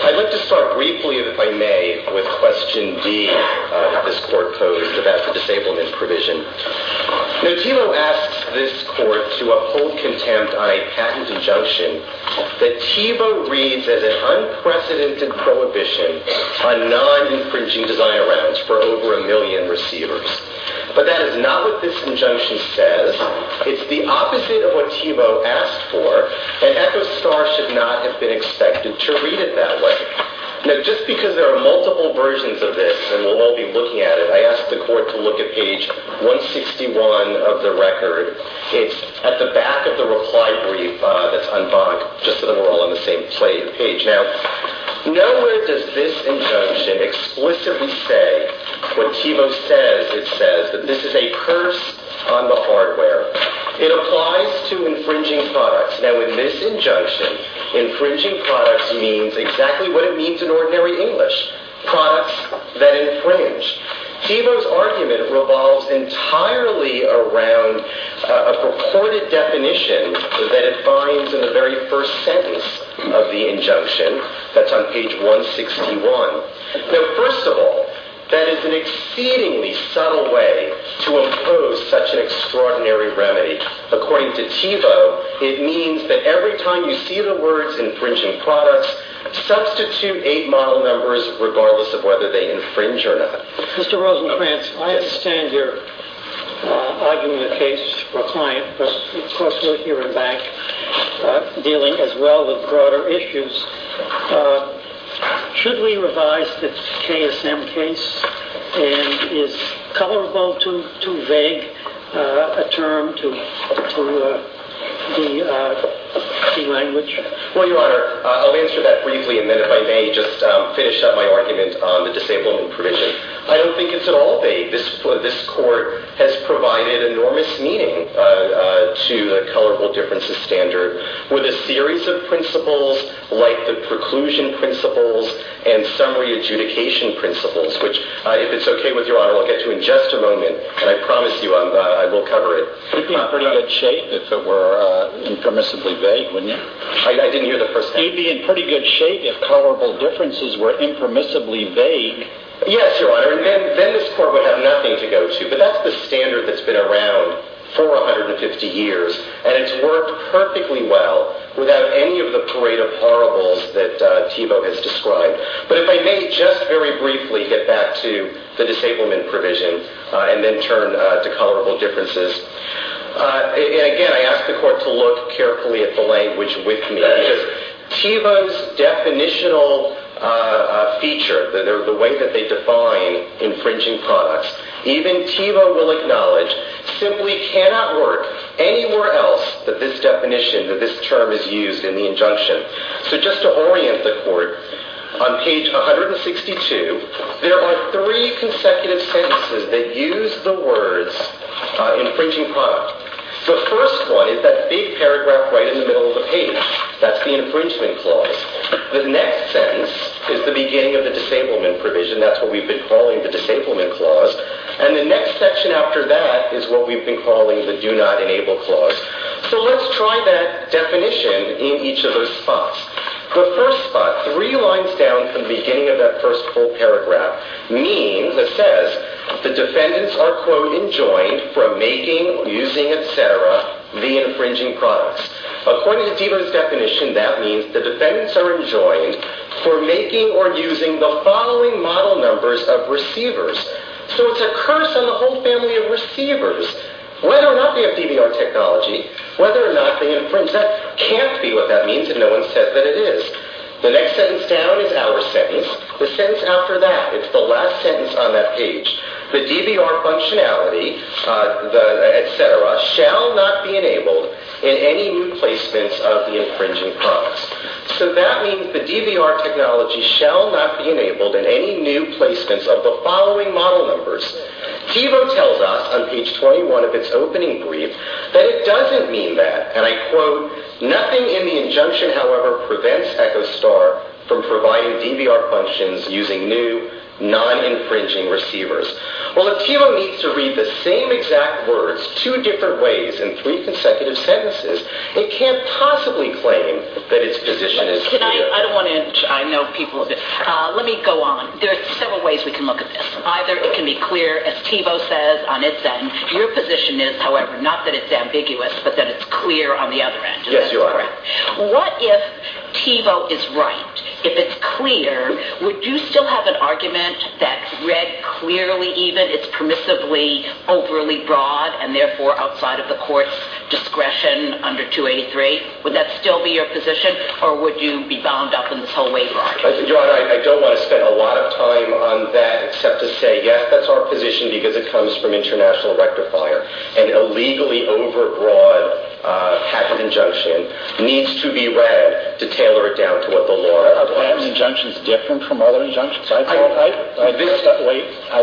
I'd like to start briefly, if I may, with question D that this court posed about the disablement provision. Now, TIVO asks this court to uphold contempt on a patent injunction that TIVO reads as an unprecedented prohibition on non-infringing desire rounds for over a But that is not what this injunction says. It's the opposite of what TIVO asked for, and ECHOSTAR should not have been expected to read it that way. Now, just because there are multiple versions of this, and we'll all be looking at it, I asked the court to look at page 161 of the record. It's at the back of the reply brief that's unbunked, just so that we're all on the same page. Now, nowhere does this injunction explicitly say what TIVO says. It says that this is a curse on the hardware. It applies to infringing products. Now, in this injunction, infringing products means exactly what it means in ordinary English, products that infringe. TIVO's argument revolves entirely around a purported definition that it finds in the very first sentence of the injunction. That's on page 161. Now, first of all, that is an exceedingly subtle way to impose such an extraordinary remedy. According to TIVO, it means that every time you see the words infringing products, substitute eight model numbers regardless of whether they infringe or not. Mr. Rosencrantz, I understand your argument in the case for a client, but of course we're here and back dealing as well with broader issues. Should we revise the KSM case? And is colorable too vague a term to the language? Well, Your Honor, I'll answer that briefly, and then if I may just finish up my argument on the disablement provision. I don't think it's at all vague. This court has provided enormous meaning to the colorable differences standard with a series of principles like the preclusion principles and summary adjudication principles, which, if it's okay with Your Honor, I'll get to in just a moment, and I promise you I will cover it. You'd be in pretty good shape if it were impermissibly vague, wouldn't you? I didn't hear the first half. You'd be in pretty good shape if colorable differences were impermissibly vague. Yes, Your Honor, and then this court would have nothing to go to, but that's the standard that's been around for 150 years, and it's worked perfectly well without any of the parade of horribles that Thiebaud has described. But if I may just very briefly get back to the disablement provision and then turn to colorable differences. And again, I ask the court to look carefully at the language with me, because Thiebaud's definitional feature, the way that they define infringing products, even Thiebaud will acknowledge, simply cannot work anywhere else that this definition, that this term is used in the injunction. So just to orient the court, on page 162, there are three consecutive sentences that use the words infringing product. The first one is that big paragraph right in the middle of the page. That's the infringement clause. The next sentence is the beginning of the disablement provision. That's what we've been calling the disablement clause. And the next section after that is what we've been calling the do not enable clause. So let's try that definition in each of those spots. The first spot, three lines down from the beginning of that first whole paragraph, means, it says, the defendants are, quote, enjoined from making, using, etc., the infringing products. According to Thiebaud's definition, that means the defendants are enjoined for making or using the following model numbers of receivers. So it's a curse on the whole family of receivers, whether or not they have DVR technology, whether or not they infringe. That can't be what that means if no one said that it is. The next sentence down is our sentence. The sentence after that, it's the last sentence on that page. The DVR functionality, etc., shall not be enabled in any new placements of the infringing products. So that means the DVR technology shall not be enabled in any new placements of the following model numbers. Thiebaud tells us on page 21 of its opening brief that it doesn't mean that. And I quote, nothing in the injunction, however, prevents EchoStar from providing DVR functions using new, non-infringing receivers. Well, if Thiebaud needs to read the same exact words two different ways in three consecutive sentences, it can't possibly claim that its position is clear. I don't want to inch. I know people. Let me go on. There are several ways we can look at this. Either it can be clear, as Thiebaud says, on its end, your position is, however, not that it's ambiguous, but that it's clear on the other end. Yes, you are. All right. What if Thiebaud is right? If it's clear, would you still have an argument that read clearly even, it's permissively overly broad, and therefore outside of the court's discretion under 283? Would that still be your position, or would you be bound up in this whole way longer? Your Honor, I don't want to spend a lot of time on that except to say, yes, that's our patent injunction needs to be read to tailor it down to what the law requires. A patent injunction is different from other injunctions. I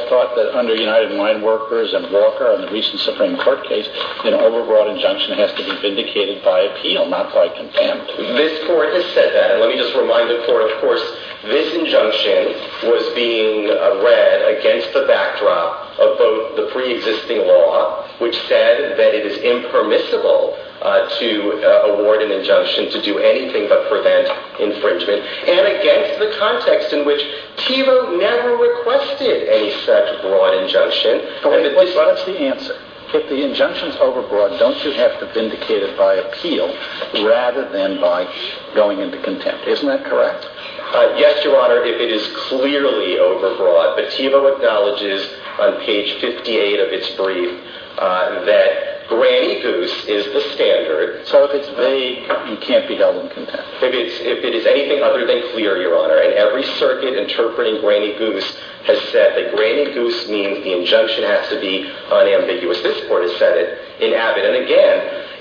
thought that under United Wine Workers and Walker and the recent Supreme Court case, an overbroad injunction has to be vindicated by appeal, not by contempt. This Court has said that. And let me just remind the Court, of course, this injunction was being read against the backdrop of both the preexisting law, which said that it is only permissible to award an injunction to do anything but prevent infringement, and against the context in which Thiebaud never requested any such broad injunction. But what's the answer? If the injunction's overbroad, don't you have to vindicate it by appeal rather than by going into contempt? Isn't that correct? Yes, Your Honor, if it is clearly overbroad. But Thiebaud acknowledges on page 58 of its So if it's vague, you can't be held in contempt? If it is anything other than clear, Your Honor. And every circuit interpreting Granny Goose has said that Granny Goose means the injunction has to be unambiguous. This Court has said it in Abbott. And again,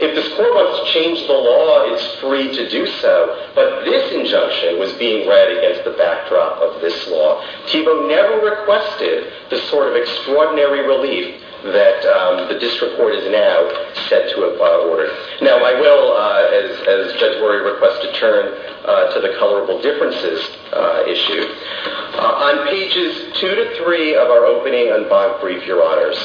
if the score wants to change the law, it's free to do so. But this injunction was being read against the backdrop of this law. Thiebaud never requested the sort of extraordinary relief that the District Court has now set to award. Now, I will, as Judge Worre requested, turn to the colorable differences issue. On pages two to three of our opening and bond brief, Your Honors,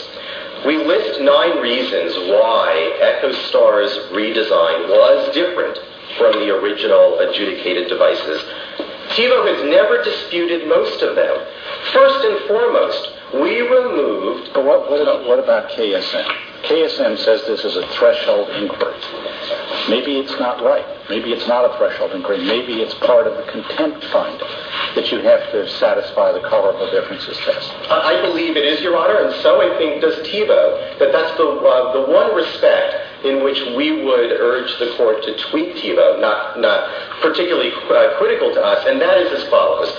we list nine reasons why Echo Star's redesign was different from the original adjudicated devices. Thiebaud has never disputed most of them. First and foremost, we removed... But what about KSM? KSM says this is a threshold inquiry. Maybe it's not right. Maybe it's not a threshold inquiry. Maybe it's part of the contempt finding that you have to satisfy the colorable differences test. I believe it is, Your Honor. And so I think does Thiebaud that that's the one respect in which we would urge the Court to tweak Thiebaud, not particularly critical to us. And that is as follows.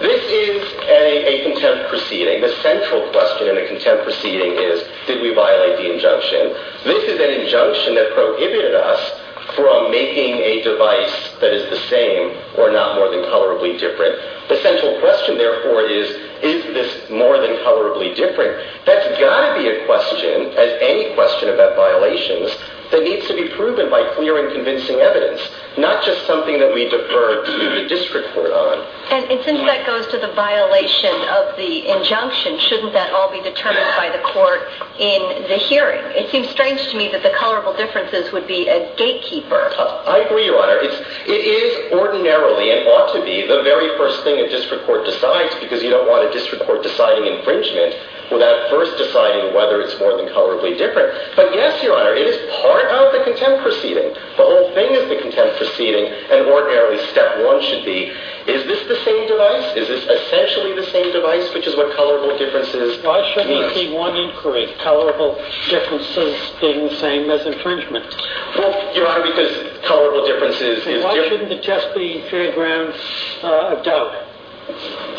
This is a contempt proceeding. The central question in a contempt proceeding is, did we violate the injunction? This is an injunction that prohibited us from making a device that is the same or not more than colorably different. The central question, therefore, is, is this more than colorably different? That's got to be a question, as any question about violations, that needs to be proven by clear and convincing evidence, not just something that we defer to the district court on. And since that goes to the violation of the injunction, shouldn't that all be determined by the court in the hearing? It seems strange to me that the colorable differences would be a gatekeeper. I agree, Your Honor. It is ordinarily and ought to be the very first thing a district court decides because you don't want a district court deciding infringement without first deciding whether it's more than colorably different. But yes, Your Honor, it is part of the contempt proceeding. The whole thing is the contempt proceeding, and ordinarily step one should be, is this the same device? Is this essentially the same device, which is what colorable differences means? Why shouldn't it be one inquiry, colorable differences being the same as infringement? Well, Your Honor, because colorable differences is different. And why shouldn't it just be a fair ground of doubt,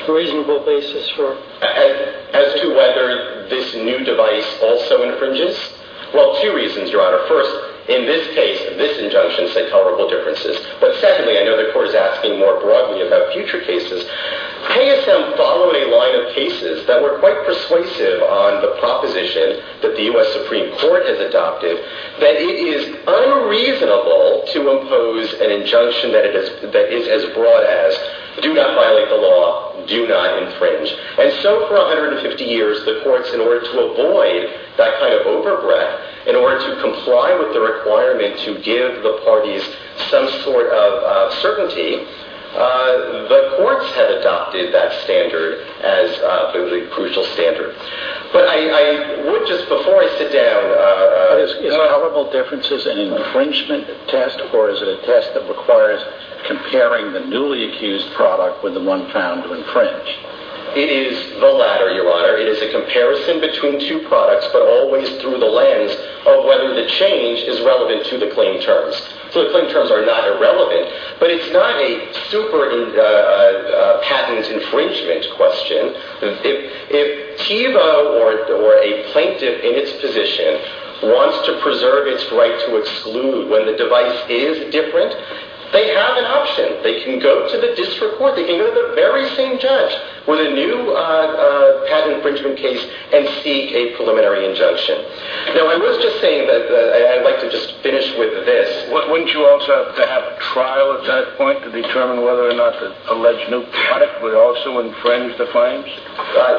a reasonable basis for? As to whether this new device also infringes? Well, two reasons, Your Honor. First, in this case, this injunction said colorable differences. But secondly, I know the court is asking more broadly about future cases. KSM followed a line of cases that were quite persuasive on the proposition that the U.S. Supreme Court has adopted that it is unreasonable to impose an injunction that is as broad as do not violate the law, do not infringe. And so for 150 years, the courts, in order to avoid that kind of overbreadth, in order to comply with the requirement to give the parties some sort of certainty, the courts have adopted that standard as the crucial standard. But I would just, before I sit down... Is colorable differences an infringement test, or is it a test that requires comparing the product with the one found to infringe? It is the latter, Your Honor. It is a comparison between two products, but always through the lens of whether the change is relevant to the claim terms. So the claim terms are not irrelevant, but it's not a super patent infringement question. If TIVO or a plaintiff in its position wants to preserve its right to exclude when the device is different, they have an option. They can go to the district court, they can go to the very same judge with a new patent infringement case and seek a preliminary injunction. Now, I was just saying that I'd like to just finish with this. Wouldn't you also have to have a trial at that point to determine whether or not the alleged new product would also infringe the claims?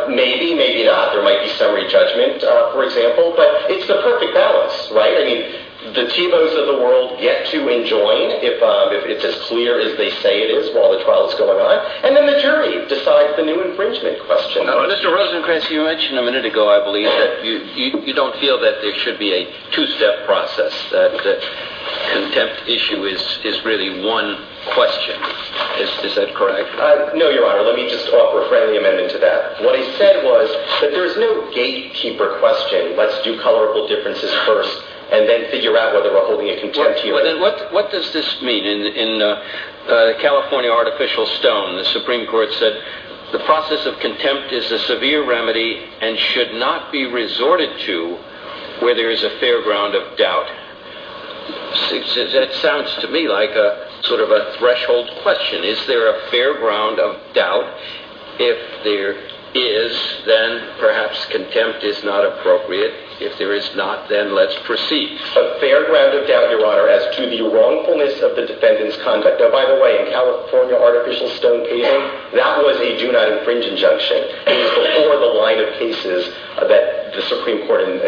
Maybe, maybe not. There might be summary judgment, for example, but it's the perfect balance, right? I mean, the TIVOs of the world get to enjoin if it's as clear as they say it is while the trial is going on, and then the jury decides the new infringement question. Mr. Rosencrantz, you mentioned a minute ago, I believe, that you don't feel that there should be a two-step process, that the contempt issue is really one question. Is that correct? No, Your Honor. Let me just offer a friendly amendment to that. What I said was that there is no gatekeeper question. Let's do colorable differences first and then figure out whether we're holding a contempt hearing. Well, then what does this mean? In the California Artificial Stone, the Supreme Court said, the process of contempt is a severe remedy and should not be resorted to where there is a fair ground of doubt. It sounds to me like sort of a threshold question. Is there a fair ground of doubt? If there is, then perhaps contempt is not appropriate. If there is not, then let's proceed. A fair ground of doubt, Your Honor, as to the wrongfulness of the defendant's conduct. Now, by the way, in California Artificial Stone casing, that was a do-not-infringe injunction. It was before the line of cases that the Supreme Court and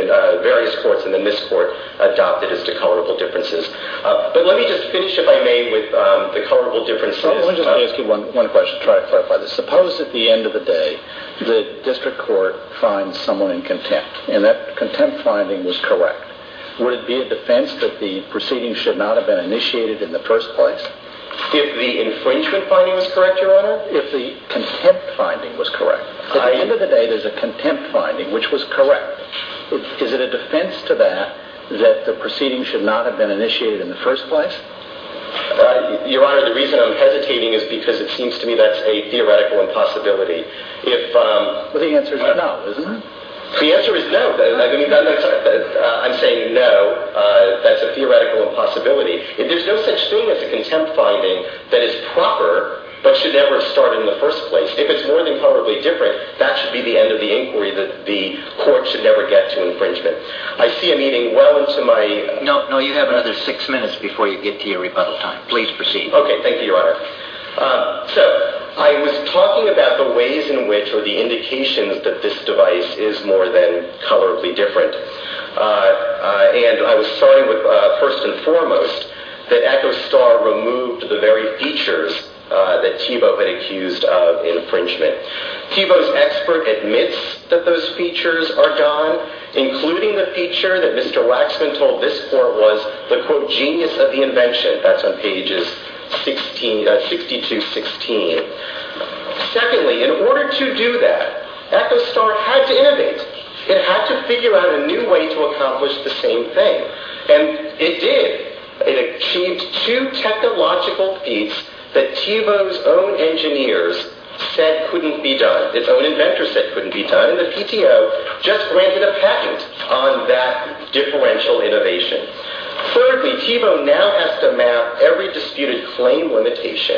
various courts and then this court adopted as to colorable differences. But let me just finish, if I may, with the colorable differences. Let me just ask you one question to try to clarify this. Suppose at the end of the day the district court finds someone in contempt and that contempt finding was correct. Would it be a defense that the proceedings should not have been initiated in the first place? If the infringement finding was correct, Your Honor? If the contempt finding was correct. At the end of the day, there's a contempt finding which was correct. Is it a defense to that that the proceedings should not have been initiated in the first place? Your Honor, the reason I'm hesitating is because it seems to me that's a theoretical impossibility. Well, the answer is no, isn't it? The answer is no. I'm saying no, that's a theoretical impossibility. There's no such thing as a contempt finding that is proper but should never have started in the first place. If it's more than probably different, that should be the end of the inquiry that the court should never get to infringement. I see a meeting well into my... No, you have another six minutes before you get to your rebuttal time. Please proceed. Okay, thank you, Your Honor. So, I was talking about the ways in which or the indications that this device is more than colorably different and I was starting with first and foremost that Echo Star removed the very features that Thiebaud had accused of infringement. Thiebaud's expert admits that those features are gone, including the feature that Mr. Waxman told this court was the, quote, genius of the invention. That's on pages 62-16. Secondly, in order to do that, Echo Star had to innovate. It had to figure out a new way to accomplish the same thing and it did. It achieved two technological feats that Thiebaud's own engineers said couldn't be done, its own inventors said couldn't be done and the PTO just granted a patent on that differential innovation. Thirdly, Thiebaud now has to map every disputed claim limitation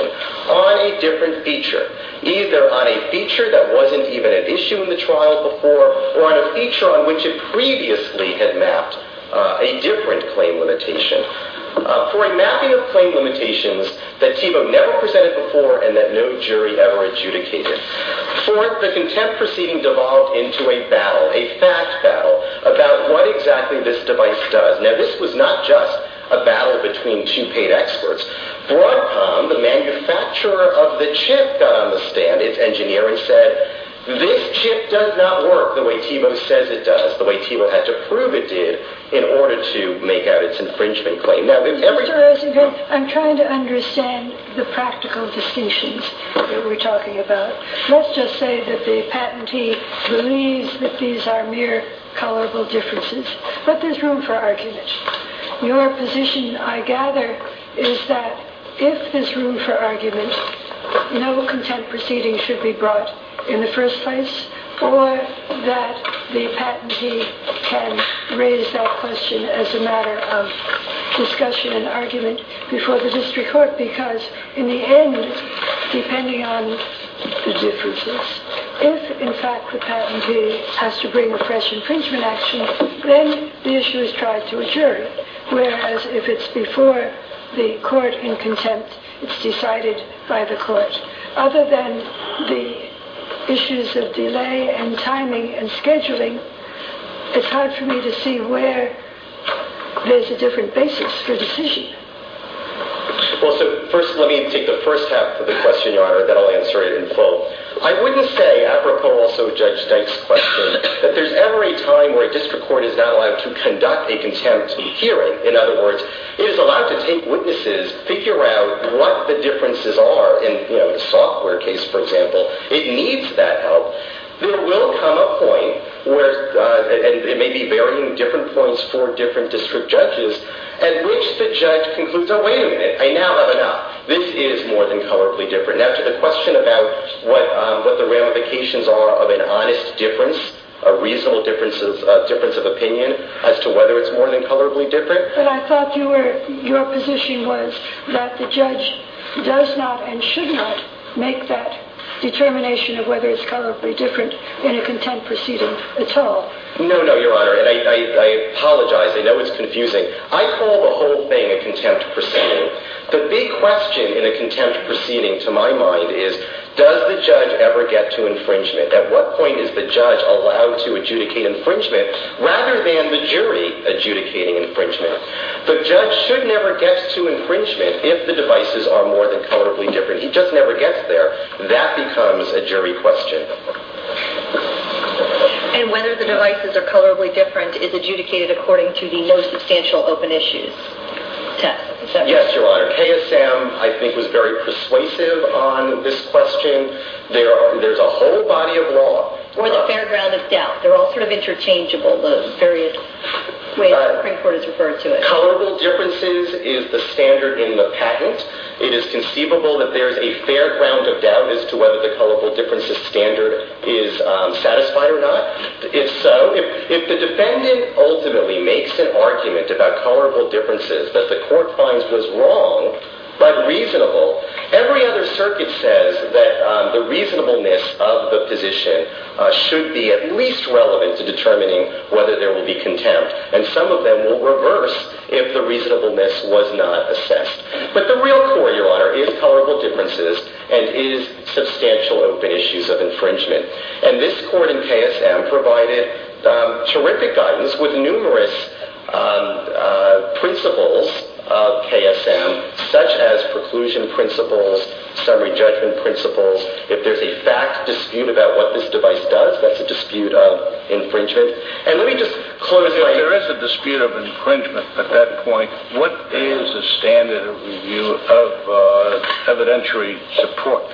on a different feature, either on a feature that wasn't even an issue in the trial before or on a feature on which it previously had mapped a different claim limitation. For a mapping of claim limitations that Thiebaud never presented before and that no jury ever adjudicated. Fourth, the contempt proceeding devolved into a battle, a fact battle, about what exactly this device does. Now this was not just a battle between two paid experts. Broadcom, the manufacturer of the chip, got on the stand, its engineer, and said this chip does not work the way Thiebaud says it does, the way Thiebaud had to prove it did in order to make out its infringement claim. I'm trying to understand the practical distinctions that we're talking about. Let's just say that the patentee believes that these are mere colorable differences, but there's room for argument. Your position, I gather, is that if there's room for argument, no contempt proceeding should be brought in the first place or that the patentee can raise that question as a matter of discussion and argument before the district court, because in the end, depending on the differences, if in fact the patentee has to bring a fresh infringement action, then the issue is tried to a jury, whereas if it's before the court in contempt, it's decided by the court. Other than the issues of delay and timing and scheduling, it's hard for me to see where there's a different basis for decision. Well, so first let me take the first half of the question, Your Honor, then I'll answer it in full. I wouldn't say, apropos also Judge Dyke's question, that there's ever a time where a district court is not allowed to conduct a contempt hearing. In other words, it is allowed to take witnesses, figure out what the differences are in, you know, the software case, for example. It needs that help. There will come a point where, and it may be varying different points for different district judges, at which the judge concludes, oh wait a minute, I now have enough. This is more than colorably different. Now to the question about what the ramifications are of an honest difference, a reasonable difference of opinion as to whether it's more than colorably different. But I thought your position was that the judge does not and should not make that determination of whether it's colorably different in a contempt proceeding at all. No, no, Your Honor, and I apologize. I know it's confusing. I call the whole thing a contempt proceeding. The big question in a contempt proceeding, to my mind, is does the judge ever get to infringement? At what point is the judge allowed to adjudicate infringement rather than the jury adjudicating infringement? The judge should never get to infringement if the devices are more than colorably different. He just never gets there. That becomes a jury question. And whether the devices are colorably different is adjudicated according to the no substantial open issues test. Yes, Your Honor. KSM, I think, was very persuasive on this question. There's a whole body of evidence that the defendant ultimately makes an argument about colorable differences that the court finds was wrong but reasonable. Every other circuit says that the reasonableness of the position should be at least relevant to determining whether there will be contempt. And some of them will reverse if the reasonableness was not assessed. But the real core, Your Honor, is colorable differences and is substantial open issues of infringement. And this court in KSM provided terrific guidance with numerous principles of KSM, such as preclusion principles, summary judgment principles. If there's a fact dispute about what this device does, that's a dispute of infringement. If there is a dispute of infringement at that point, what is the standard of review of evidentiary support?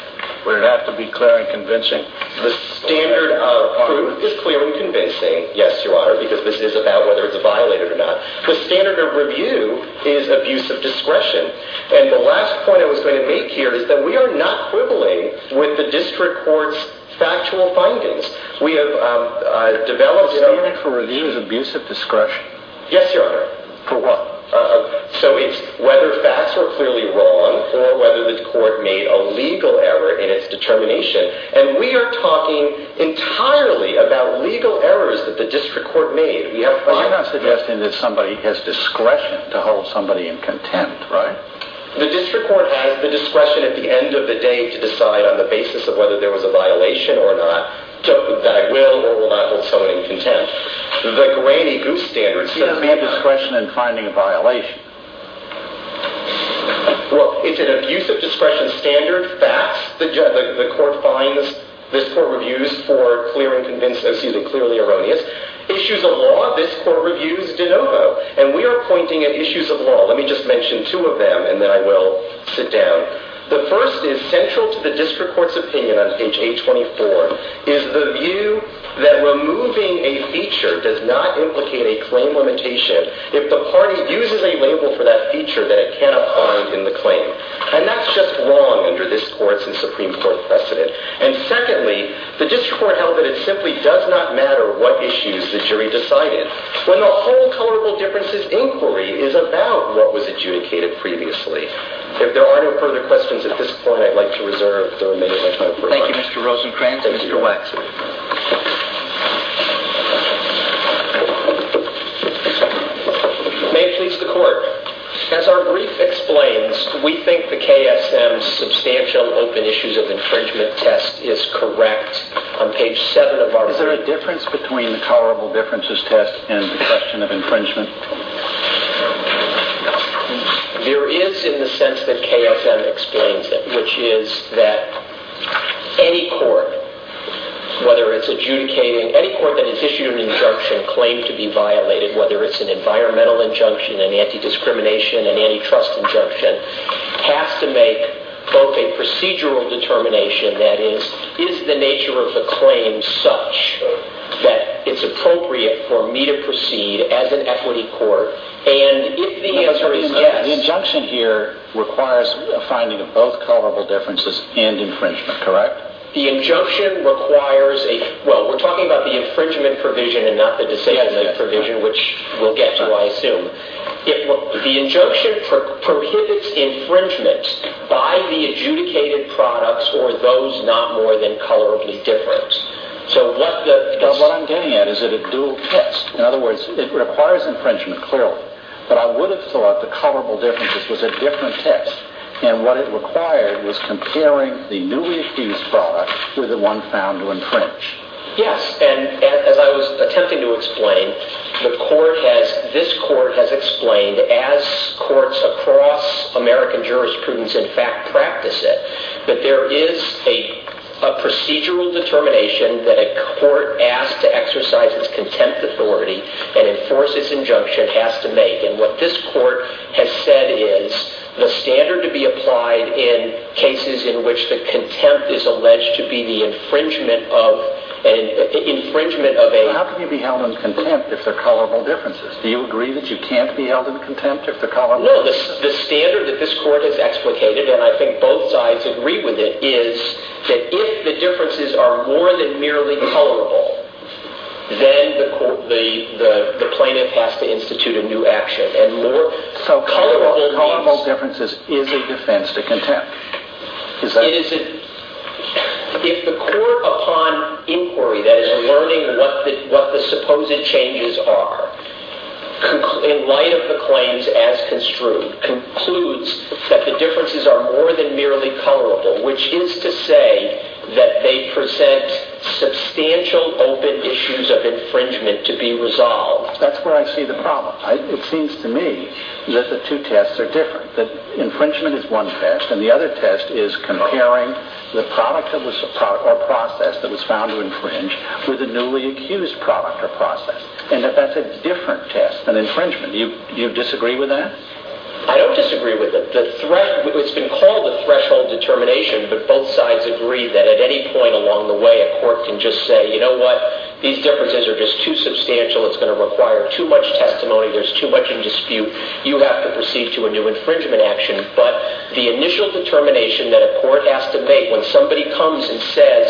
Would it have to be clear and convincing? The standard of proof is clear and convincing, yes, Your Honor, because this is about whether The standard of review is abuse of discretion. And the last point I was going to make here is that we are not quibbling with the district court's factual findings. The standard for review is abuse of discretion? Yes, Your Honor. For what? So it's whether facts were clearly wrong or whether the court made a legal error in its determination. And we are talking entirely about legal errors that the district court made. But you're not suggesting that somebody has discretion to hold somebody in contempt, right? The district court has the discretion at the end of the day to decide on the basis of whether there was a violation or not, that I will or will not hold someone in contempt. The grainy goose standard says not. You don't have discretion in finding a violation. Well, it's an abuse of discretion standard. Facts, the court finds, this court reviews for clear and convincing, excuse me, clearly erroneous. Issues of law, this court reviews de novo. And we are pointing at issues of law. Let me just mention two of them and then I will sit down. The first is central to the district court's opinion on page 824 is the view that removing a feature does not implicate a claim limitation if the party uses a label for that feature that it cannot find in the claim. And that's just wrong under this court's and Supreme Court rule. Secondly, the district court held that it simply does not matter what issues the jury decided when the whole colorable differences inquiry is about what was adjudicated previously. If there are no further questions at this point, I'd like to reserve the remaining time for questions. Thank you, Mr. Rosencrantz. Mr. Waxman. May it please the court. As our brief explains, we think the KSM's substantial open issues of infringement test is correct on page 7 of our brief. Is there a difference between the colorable differences test and the question of infringement? There is in the sense that KSM explains it, which is that any court, whether it's adjudicating – any court that has issued an injunction claimed to be violated, whether it's an environmental injunction, an anti-discrimination, an antitrust injunction, has to make both a procedural determination, that is, is the nature of the claim such that it's appropriate for me to proceed as an equity court, and if the answer is yes – The injunction here requires a finding of both colorable differences and infringement, correct? The injunction requires a – well, we're talking about the infringement provision and not the disability provision, which we'll get to, I assume. The injunction prohibits infringement by the adjudicated products or those not more than colorably different. So what the – Well, what I'm getting at is that it's a dual test. In other words, it requires infringement clearly, but I would have thought the colorable differences was a different test, and what it required was comparing the newly accused product with the one found to infringe. Yes, and as I was attempting to explain, the court has – this court has explained, as courts across American jurisprudence in fact practice it, that there is a procedural determination that a court asked to exercise its contempt authority and enforce its injunction has to make, and what this court has said is the standard to be applied in cases in which the contempt is alleged to be the infringement of a – How can you be held in contempt if they're colorable differences? Do you agree that you can't be held in contempt if they're colorable? No, the standard that this court has explicated, and I think both sides agree with it, is that if the differences are more than merely colorable, then the plaintiff has to institute a new action, and more colorable means – If the court upon inquiry, that is, learning what the supposed changes are, in light of the claims as construed, concludes that the differences are more than merely colorable, which is to say that they present substantial open issues of infringement to be resolved – That's where I see the problem. It seems to me that the two tests are different, that a test is comparing the product or process that was found to infringe with a newly accused product or process, and that that's a different test, an infringement. Do you disagree with that? I don't disagree with it. It's been called a threshold determination, but both sides agree that at any point along the way a court can just say, you know what, these differences are just too substantial, it's going to require too much testimony, there's too much determination that a court has to make when somebody comes and says,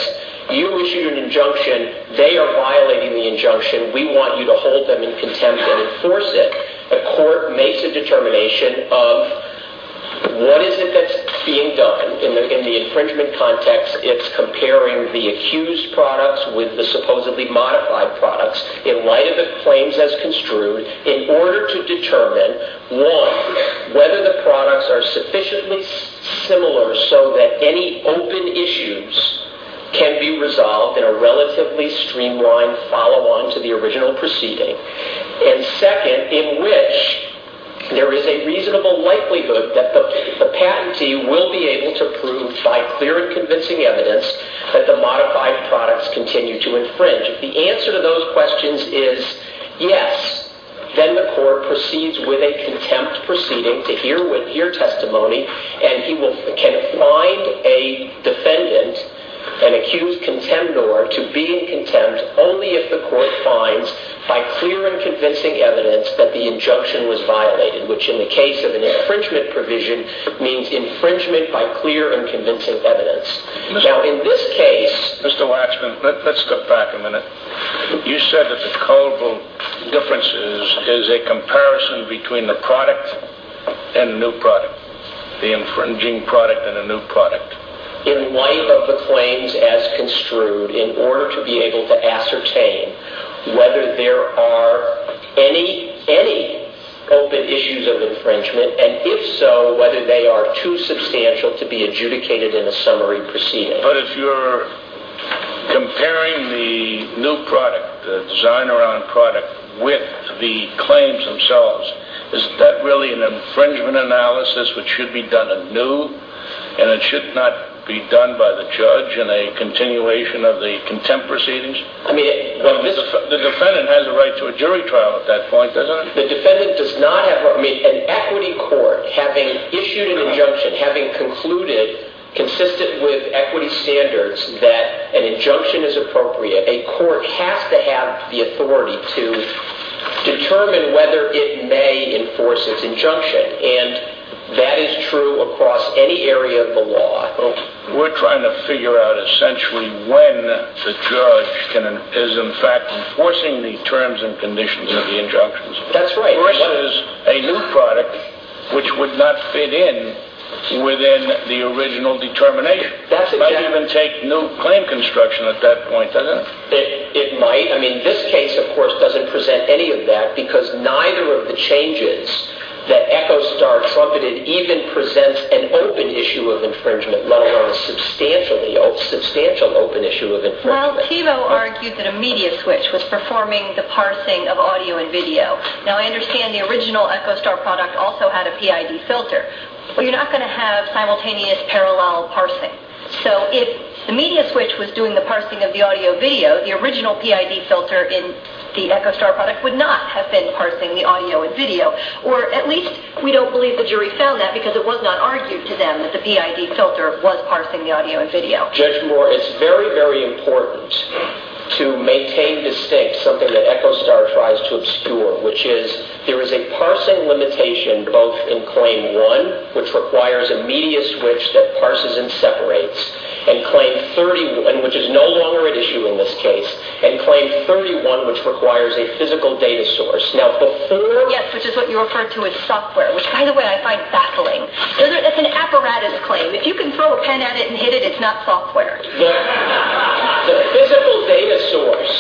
you issued an injunction, they are violating the injunction, we want you to hold them in contempt and enforce it. A court makes a determination of what is it that's being done, in the infringement context, it's comparing the accused products with the supposedly modified products, in light of the claims as construed, in order to determine, one, whether the products are sufficiently similar so that any open issues can be resolved in a relatively streamlined follow-on to the original proceeding, and second, in which there is a reasonable likelihood that the patentee will be able to prove by clear and convincing evidence that the modified products continue to infringe. If the answer to those questions is yes, then the court proceeds with a contempt proceeding to hear testimony, and he can find a defendant, an accused contendor, to be in contempt only if the court finds by clear and convincing evidence that the injunction was violated, which in the case of an infringement provision means infringement by clear and convincing evidence. Now in this case... Comparison between the product and the new product. The infringing product and the new product. In light of the claims as construed, in order to be able to ascertain whether there are any open issues of infringement, and if so, whether they are too substantial to be adjudicated in a summary proceeding. But if you're comparing the new product, the designer on product, with the claims themselves, is that really an infringement analysis which should be done anew, and it should not be done by the judge in a continuation of the contempt proceedings? The defendant has a right to a jury trial at that point, doesn't it? The defendant does not have... An equity court, having issued an injunction, having concluded, consistent with equity standards, that an injunction is appropriate, a court has to have the authority to determine whether it may enforce its injunction, and that is true across any area of the law. We're trying to figure out essentially when the judge is in fact enforcing the terms and conditions of the injunctions. That's right. Versus a new product which would not fit in within the original determination. That's exactly... It might even take new claim construction at that point, doesn't it? It might. I mean, this case, of course, doesn't present any of that because neither of the changes that EchoStar trumpeted even presents an open issue of infringement, let alone a substantial open issue of infringement. Well, Thiebaud argued that a media switch was performing the parsing of audio and video. Now, I understand the original EchoStar product also had a PID filter, but you're not going to have simultaneous parallel parsing. So if the media switch was doing the parsing of the audio video, the original PID filter in the EchoStar product would not have been parsing the audio and video, or at least we don't believe the jury found that because it was not argued to them that the PID filter was parsing the audio and video. Judge Moore, it's very, very important to maintain distinct something that EchoStar tries to obscure, which is there is a parsing limitation both in claim one, which requires a media switch that parses and separates, which is no longer at issue in this case, and claim 31, which requires a physical data source. Yes, which is what you referred to as software, which, by the way, I find baffling. That's an apparatus claim. If you can throw a pen at it and hit it, it's not software. The physical data source,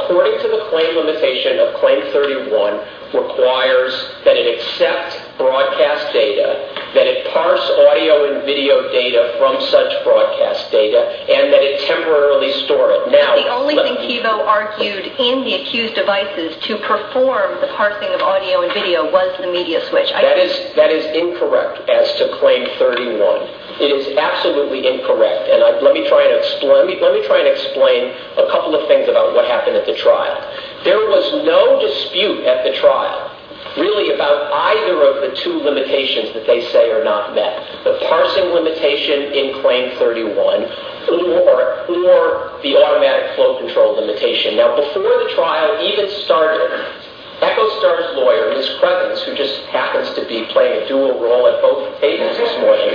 according to the claim limitation of claim 31, requires that it accept broadcast data, that it parse audio and video data from such broadcast data, and that it temporarily store it. The only thing Kivo argued in the accused devices to perform the parsing of audio and video was the media switch. That is incorrect as to claim 31. It is absolutely incorrect. Let me try and explain a couple of things about what happened at the trial. There was no dispute at the trial, really, about either of the two limitations that they say are not met, the parsing limitation in claim 31 or the automatic flow control limitation. Now, before the trial even started, EchoStar's lawyer, Ms. Crevens, who just happens to be playing a dual role at both tables this morning,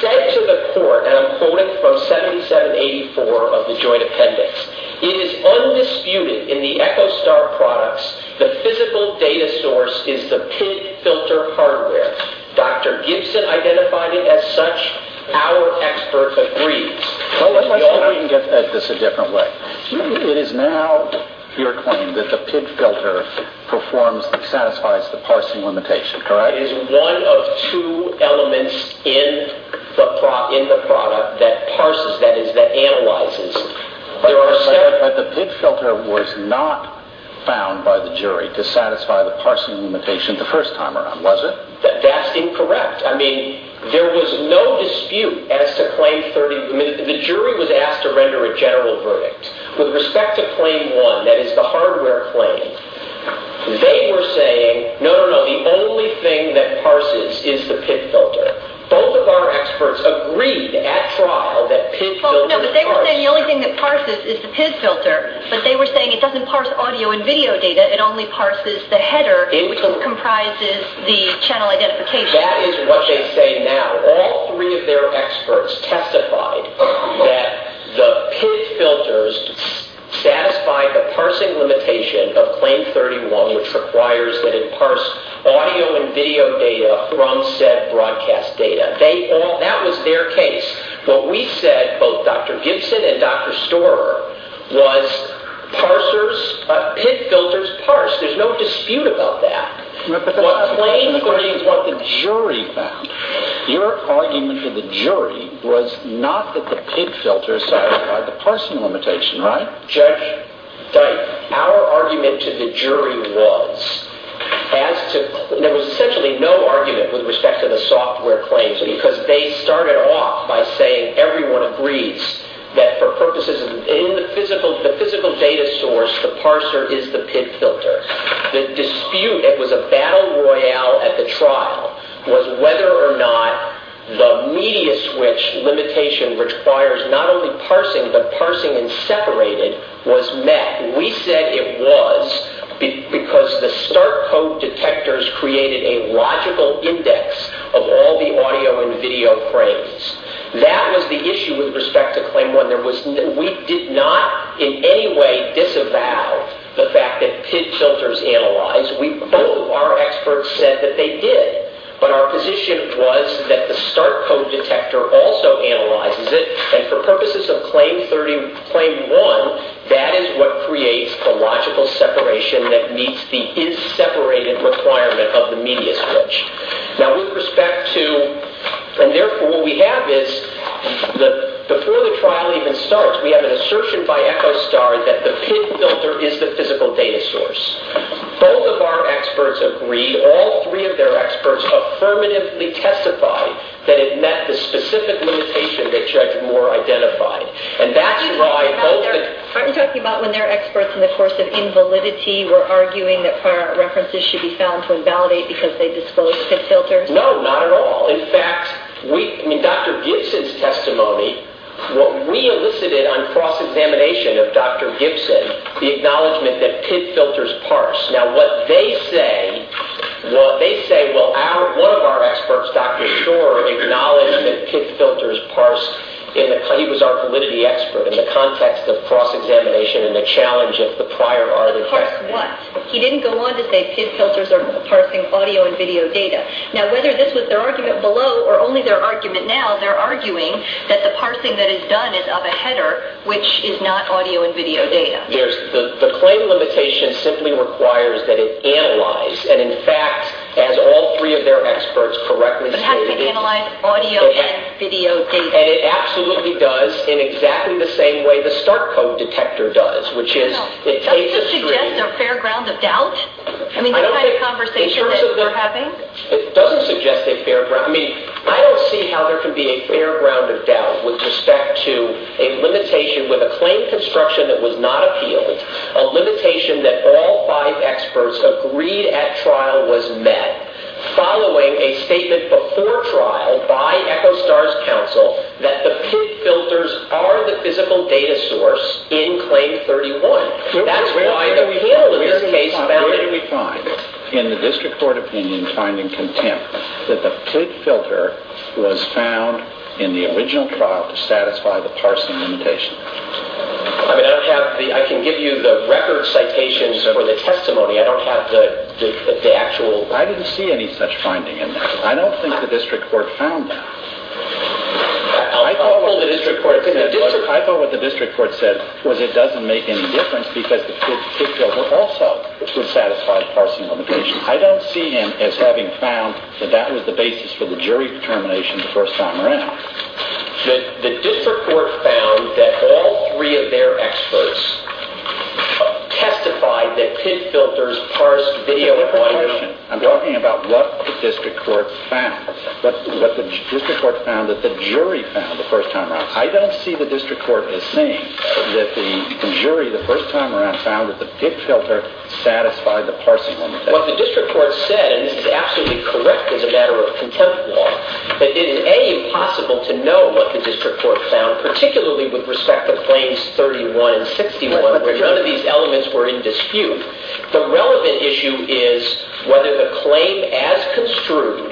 said to the court, and I'm quoting from 7784 of the joint appendix, it is undisputed in the EchoStar products that the physical data source is the PID filter hardware. Dr. Gibson identified it as such. Our expert agrees. Let's look at this a different way. It is now your claim that the PID filter satisfies the parsing limitation, correct? That is one of two elements in the product that parses, that is, that analyzes. But the PID filter was not found by the jury to satisfy the parsing limitation the first time around, was it? That's incorrect. I mean, there was no dispute as to claim 31. The jury was asked to render a general verdict. With respect to claim 1, that is, the hardware claim, they were saying, no, no, no, the only thing that parses is the PID filter. Both of our experts agreed at trial that PID filters... Well, no, but they were saying the only thing that parses is the PID filter, but they were saying it doesn't parse audio and video data, it only parses the header, which comprises the channel identification. That is what they say now. All three of their experts testified that the PID filters satisfy the parsing limitation of claim 31, which requires that it parse audio and video data from said broadcast data. That was their case. What we said, both Dr. Gibson and Dr. Storer, was PID filters parse. There's no dispute about that. But that's a question of what the jury found. Your argument to the jury was not that the PID filters satisfy the parsing limitation, right? Judge Dike, our argument to the jury was there was essentially no argument with respect to the software claims because they started off by saying everyone agrees that for purposes of the physical data source, the parser is the PID filter. The dispute, it was a battle royale at the trial, was whether or not the media switch limitation requires not only parsing, but parsing and separating was met. We said it was because the start code detectors created a logical index of all the audio and video frames. That was the issue with respect to claim 1. We did not in any way disavow the fact that PID filters analyze. Our experts said that they did. But our position was that the start code detector also analyzes it, and for purposes of claim 1, that is what creates the logical separation that meets the is-separated requirement of the media switch. Now, with respect to, and therefore what we have is before the trial even starts, we have an assertion by EchoStar that the PID filter is the physical data source. Both of our experts agree, all three of their experts affirmatively testify that it met the specific limitation that Judge Moore identified. And that's why... Aren't you talking about when their experts in the course of invalidity were arguing that prior references should be found to invalidate because they disclosed PID filters? No, not at all. In fact, Dr. Gibson's testimony, what we elicited on cross-examination of Dr. Gibson, the acknowledgement that PID filters parse. Now, what they say... Well, they say, well, one of our experts, Dr. Shore, acknowledged that PID filters parse... He was our validity expert in the context of cross-examination and the challenge of the prior artifacts. He didn't go on to say PID filters are parsing audio and video data. Now, whether this was their argument below or only their argument now, they're arguing that the parsing that is done is of a header, which is not audio and video data. The claim limitation simply requires that it analyze, and in fact, as all three of their experts correctly stated... But how can it analyze audio and video data? And it absolutely does in exactly the same way the start code detector does, which is it takes a screen... Doesn't this suggest a fair ground of doubt? I mean, that kind of conversation that we're having? It doesn't suggest a fair ground... I mean, I don't see how there can be a fair ground of doubt with respect to a limitation with a claim construction that was not appealed, a limitation that all five experts agreed at trial was met following a statement before trial by EchoStar's counsel that the PID filters are the physical data source in Claim 31. That's why the appeal in this case... Where do we find, in the district court opinion, in finding contempt that the PID filter was found in the original trial to satisfy the parsing limitation? I mean, I don't have the... I can give you the record citations for the testimony. I don't have the actual... I didn't see any such finding in that. I don't think the district court found that. I'll pull the district court... I thought what the district court said was it doesn't make any difference because the PID filter also would satisfy the parsing limitation. I don't see him as having found that that was the basis for the jury determination the first time around. The district court found that all three of their experts testified that PID filters parsed video... That's a different question. I'm talking about what the district court found, what the district court found that the jury found the first time around. I don't see the district court as saying that the jury the first time around found that the PID filter satisfied the parsing limitation. What the district court said, and this is absolutely correct as a matter of contempt law, that it is A, impossible to know what the district court found, particularly with respect to claims 31 and 61 where none of these elements were in dispute. The relevant issue is whether the claim as construed,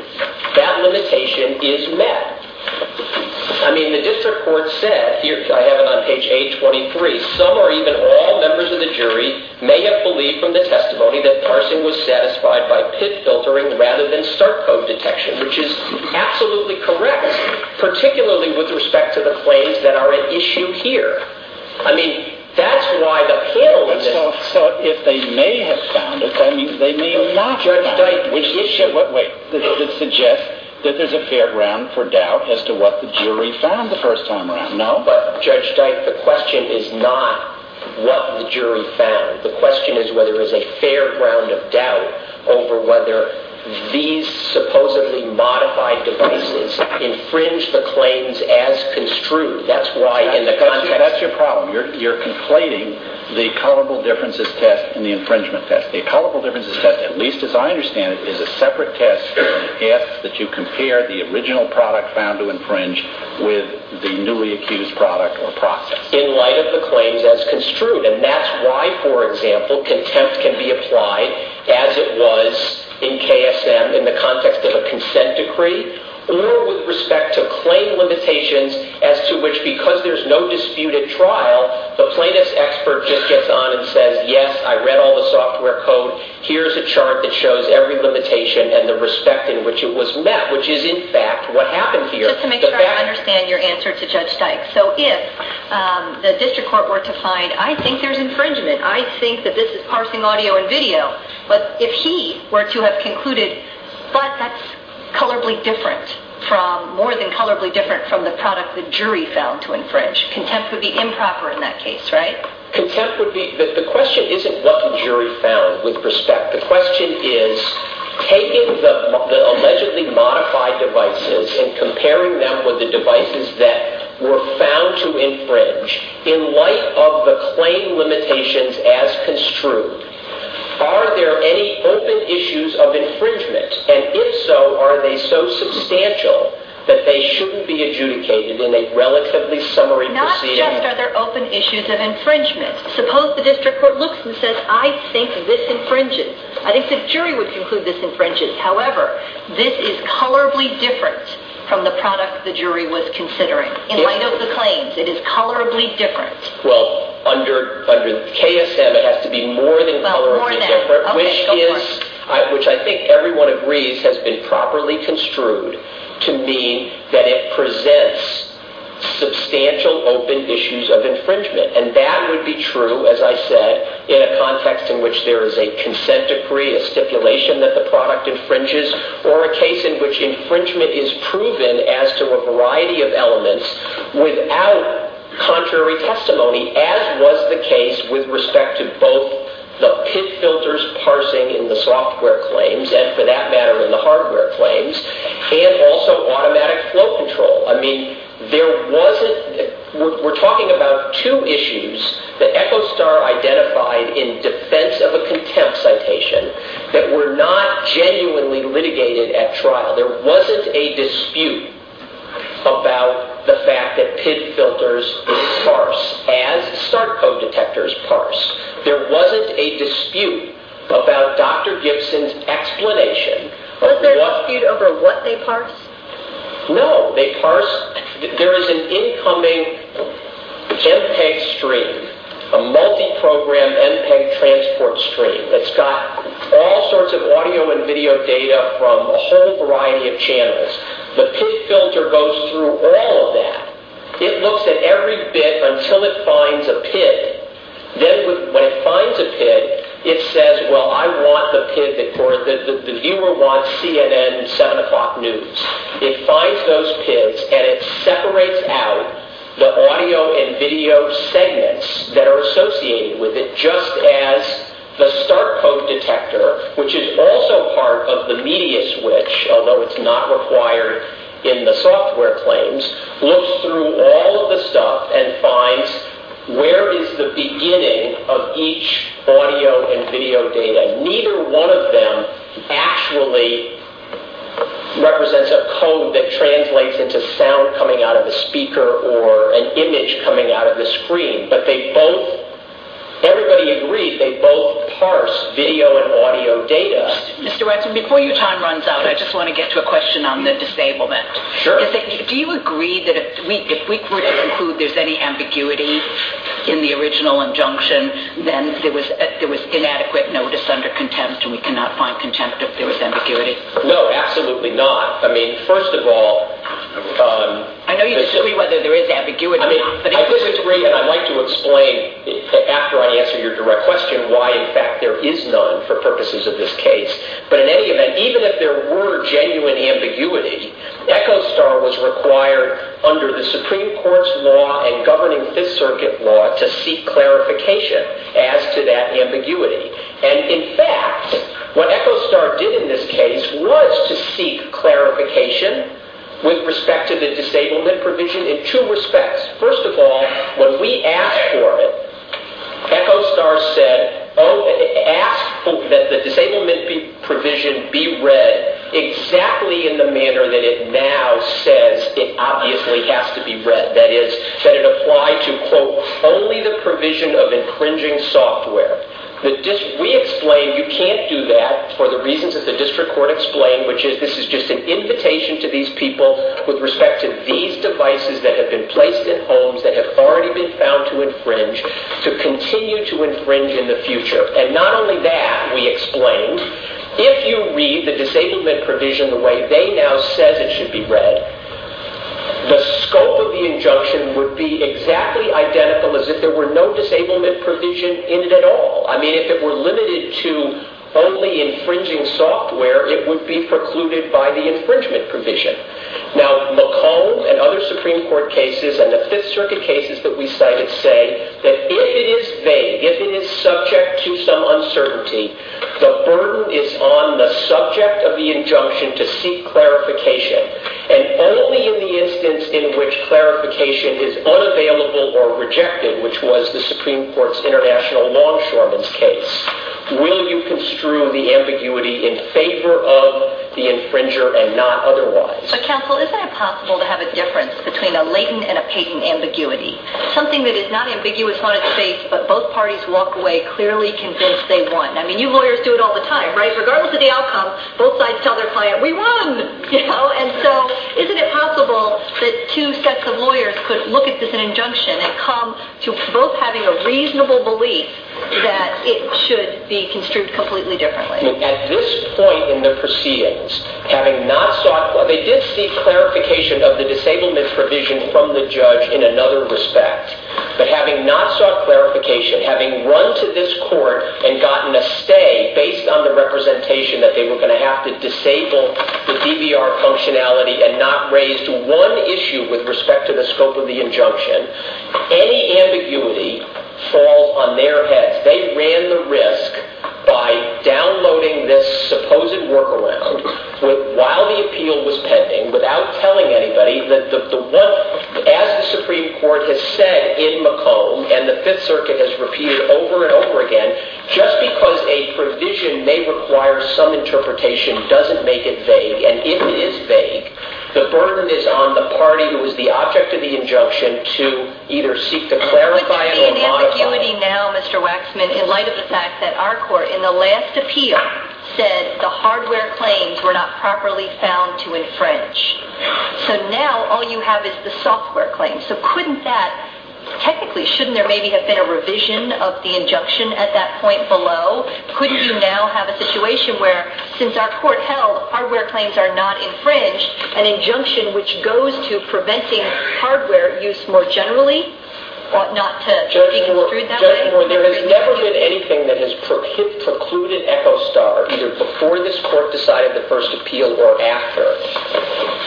that limitation is met. I mean, the district court said, here I have it on page 823, some or even all members of the jury may have believed from the testimony that parsing was satisfied by PID filtering rather than start code detection, which is absolutely correct, particularly with respect to the claims that are at issue here. I mean, that's why the panel is... So if they may have found it, they may not have found it. Judge Dyke, which suggests that there's a fair ground for doubt as to what the jury found the first time around, no? Judge Dyke, the question is not what the jury found. The question is whether there's a fair ground of doubt over whether these supposedly modified devices infringe the claims as construed. That's why in the context... That's your problem. You're conflating the culpable differences test and the infringement test. The culpable differences test, at least as I understand it, is a separate test that asks that you compare the original product found to infringe with the newly accused product or process. In light of the claims as construed, and that's why, for example, contempt can be applied as it was in KSM in the context of a consent decree, or with respect to claim limitations as to which, because there's no dispute at trial, the plaintiff's expert just gets on and says, yes, I read all the software code. Here's a chart that shows every limitation and the respect in which it was met, which is, in fact, what happened here. Just to make sure I understand your answer to Judge Dyke. So if the district court were to find, I think there's infringement, I think that this is parsing audio and video, but if he were to have concluded, but that's colorably different from, more than colorably different from the product the jury found to infringe, contempt would be improper in that case, right? Contempt would be... The question isn't what the jury found, with respect. The question is taking the allegedly modified devices and comparing them with the devices that were found to infringe in light of the claim limitations as construed. Are there any open issues of infringement? And if so, are they so substantial that they shouldn't be adjudicated in a relatively summary proceeding? Not just are there open issues of infringement. Suppose the district court looks and says, I think this infringes. I think the jury would conclude this infringes. However, this is colorably different from the product the jury was considering. In light of the claims, it is colorably different. Well, under KSM it has to be more than colorably different, which I think everyone agrees has been properly construed to mean that it presents substantial open issues of infringement. And that would be true, as I said, in a context in which there is a consent decree, a stipulation that the product infringes, or a case in which infringement is proven as to a variety of elements without contrary testimony, as was the case with respect to both the pit filters parsing in the software claims, and for that matter in the hardware claims, and also automatic flow control. I mean, there wasn't, we're talking about two issues that EchoStar identified in defense of a contempt citation that were not genuinely litigated at trial. There wasn't a dispute about the fact that pit filters parse as start code detectors parse. There wasn't a dispute about Dr. Gibson's explanation. Was there a dispute over what they parsed? No. There is an incoming MPEG stream, a multi-program MPEG transport stream that's got all sorts of audio and video data from a whole variety of channels. The pit filter goes through all of that. It looks at every bit until it finds a pit. Then when it finds a pit, it says, well, I want the pit that the viewer watched CNN 7 o'clock news. It finds those pits and it separates out the audio and video segments that are associated with it just as the start code detector, which is also part of the media switch, although it's not required in the software claims, looks through all of the stuff and finds where is the beginning of each audio and video data. Neither one of them actually represents a code that translates into sound coming out of the speaker or an image coming out of the screen, but they both, everybody agreed, they both parse video and audio data. Mr. Watson, before your time runs out, I just want to get to a question on the disablement. Sure. Do you agree that if we were to conclude there's any ambiguity in the original injunction, then there was inadequate notice under contempt and we cannot find contempt if there was ambiguity? No, absolutely not. I mean, first of all... I know you disagree whether there is ambiguity. I disagree and I'd like to explain after I answer your direct question why in fact there is none for purposes of this case. But in any event, even if there were genuine ambiguity, Echo Star was required under the Supreme Court's law and governing Fifth Circuit law to seek clarification as to that ambiguity. And in fact, what Echo Star did in this case was to seek clarification with respect to the disablement provision in two respects. First of all, when we asked for it, Echo Star said, asked that the disablement provision be read exactly in the manner that it now says it obviously has to be read. That is, that it apply to, quote, only the provision of infringing software. We explained you can't do that for the reasons that the district court explained, which is this is just an invitation to these people with respect to these devices that have been placed in homes that have already been found to infringe to continue to infringe in the future. And not only that, we explained, if you read the disablement provision the way they now said it should be read, the scope of the injunction would be exactly identical as if there were no disablement provision in it at all. I mean, if it were limited to only infringing software, it would be precluded by the infringement provision. Now, McComb and other Supreme Court cases and the Fifth Circuit cases that we cited say that if it is vague, if it is subject to some uncertainty, the burden is on the subject of the injunction to seek clarification. And only in the instance in which clarification is unavailable or rejected, which was the Supreme Court's international longshoreman's case, will you construe the ambiguity in favor of the infringer and not otherwise. But counsel, isn't it possible to have a difference between a latent and a patent ambiguity? Something that is not ambiguous on its face, but both parties walk away clearly convinced they won. I mean, you lawyers do it all the time, right? Regardless of the outcome, both sides tell their client, we won! And so, isn't it possible that two sets of lawyers could look at this injunction and come to both having a reasonable belief that it should be construed completely differently? At this point in the proceedings, having not sought... They did seek clarification of the disablement provision from the judge in another respect. But having not sought clarification, having run to this court and gotten a stay based on the representation that they were going to have to disable the DVR functionality and not raise one issue with respect to the scope of the injunction, any ambiguity falls on their heads. They ran the risk by downloading this supposed workaround while the appeal was pending, without telling anybody, as the Supreme Court has said in McComb and the Fifth Circuit has repeated over and over again, just because a provision may require some interpretation doesn't make it vague. And if it is vague, the burden is on the party who is the object of the injunction to either seek to clarify or modify... But there is an ambiguity now, Mr. Waxman, in light of the fact that our court, in the last appeal, said the hardware claims were not properly found to infringe. So now, all you have is the software claims. So couldn't that... Technically, shouldn't there maybe have been a revision of the injunction at that point below? Couldn't you now have a situation where, since our court held hardware claims are not infringed, an injunction which goes to preventing hardware use more generally? Or not to think it through that way? Judge Moore, there has never been anything that has precluded Echo Star, either before this court decided the first appeal or after,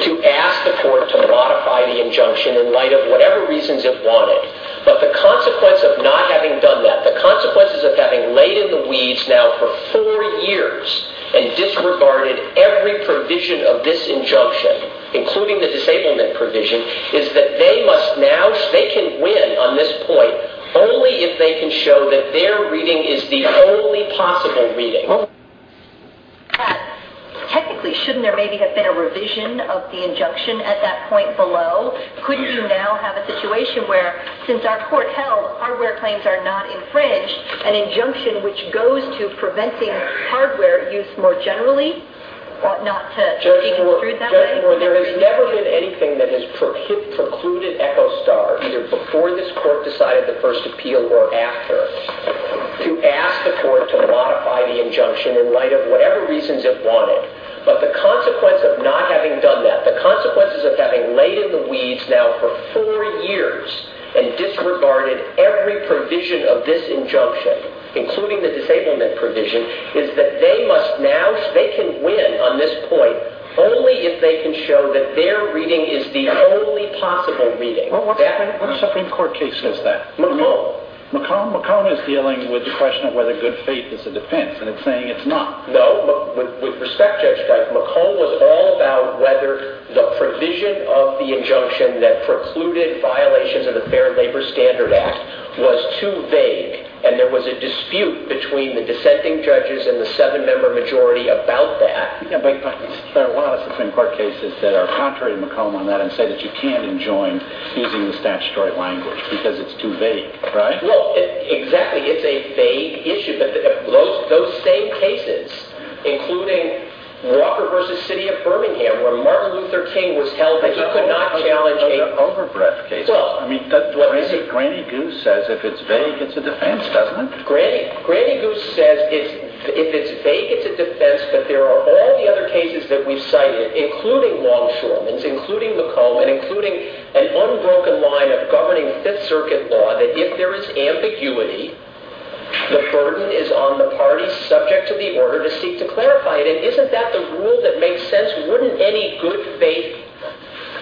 to ask the court to modify the injunction in light of whatever reasons it wanted. But the consequence of not having done that, the consequences of having laid in the weeds now for four years and disregarded every provision of this injunction, including the disablement provision, is that they must now... They can win on this point only if they can show that their reading is the only possible reading. Technically, shouldn't there maybe have been a revision of the injunction at that point below? Couldn't you now have a situation where, since our court held hardware claims are not infringed, an injunction which goes to preventing hardware use more generally? Or not to think it through that way? Judge Moore, there has never been anything that has precluded Echo Star, either before this court decided the first appeal or after, to ask the court to modify the injunction in light of whatever reasons it wanted. But the consequence of not having done that, the consequences of having laid in the weeds now for four years and disregarded every provision of this injunction, including the disablement provision, is that they must now... They can win on this point only if they can show that their reading is the only possible reading. Well, what Supreme Court case is that? McComb. McComb? McComb is dealing with the question of whether good faith is a defense, and it's saying it's not. No, but with respect, Judge Brey, McComb was all about whether the provision of the injunction that precluded violations of the Fair Labor Standard Act was too vague, and there was a dispute between the dissenting judges and the seven-member majority about that. Yeah, but there are a lot of Supreme Court cases that are contrary to McComb on that and say that you can't enjoin using the statutory language because it's too vague, right? Well, exactly. It's a vague issue. Those same cases, including Walker v. City of Birmingham, where Martin Luther King was held that he could not challenge a... No, no, no, no, no. Overbreadth cases. I mean, Granny Goose says if it's vague, it's a defense, doesn't it? Granny Goose says if it's vague, it's a defense, but there are all the other cases that we've cited, including Longshoreman's, including McComb, and including an unbroken line of governing Fifth Circuit law that if there is ambiguity, the burden is on the parties subject to the order to seek to clarify it. And isn't that the rule that makes sense? Wouldn't any good, vague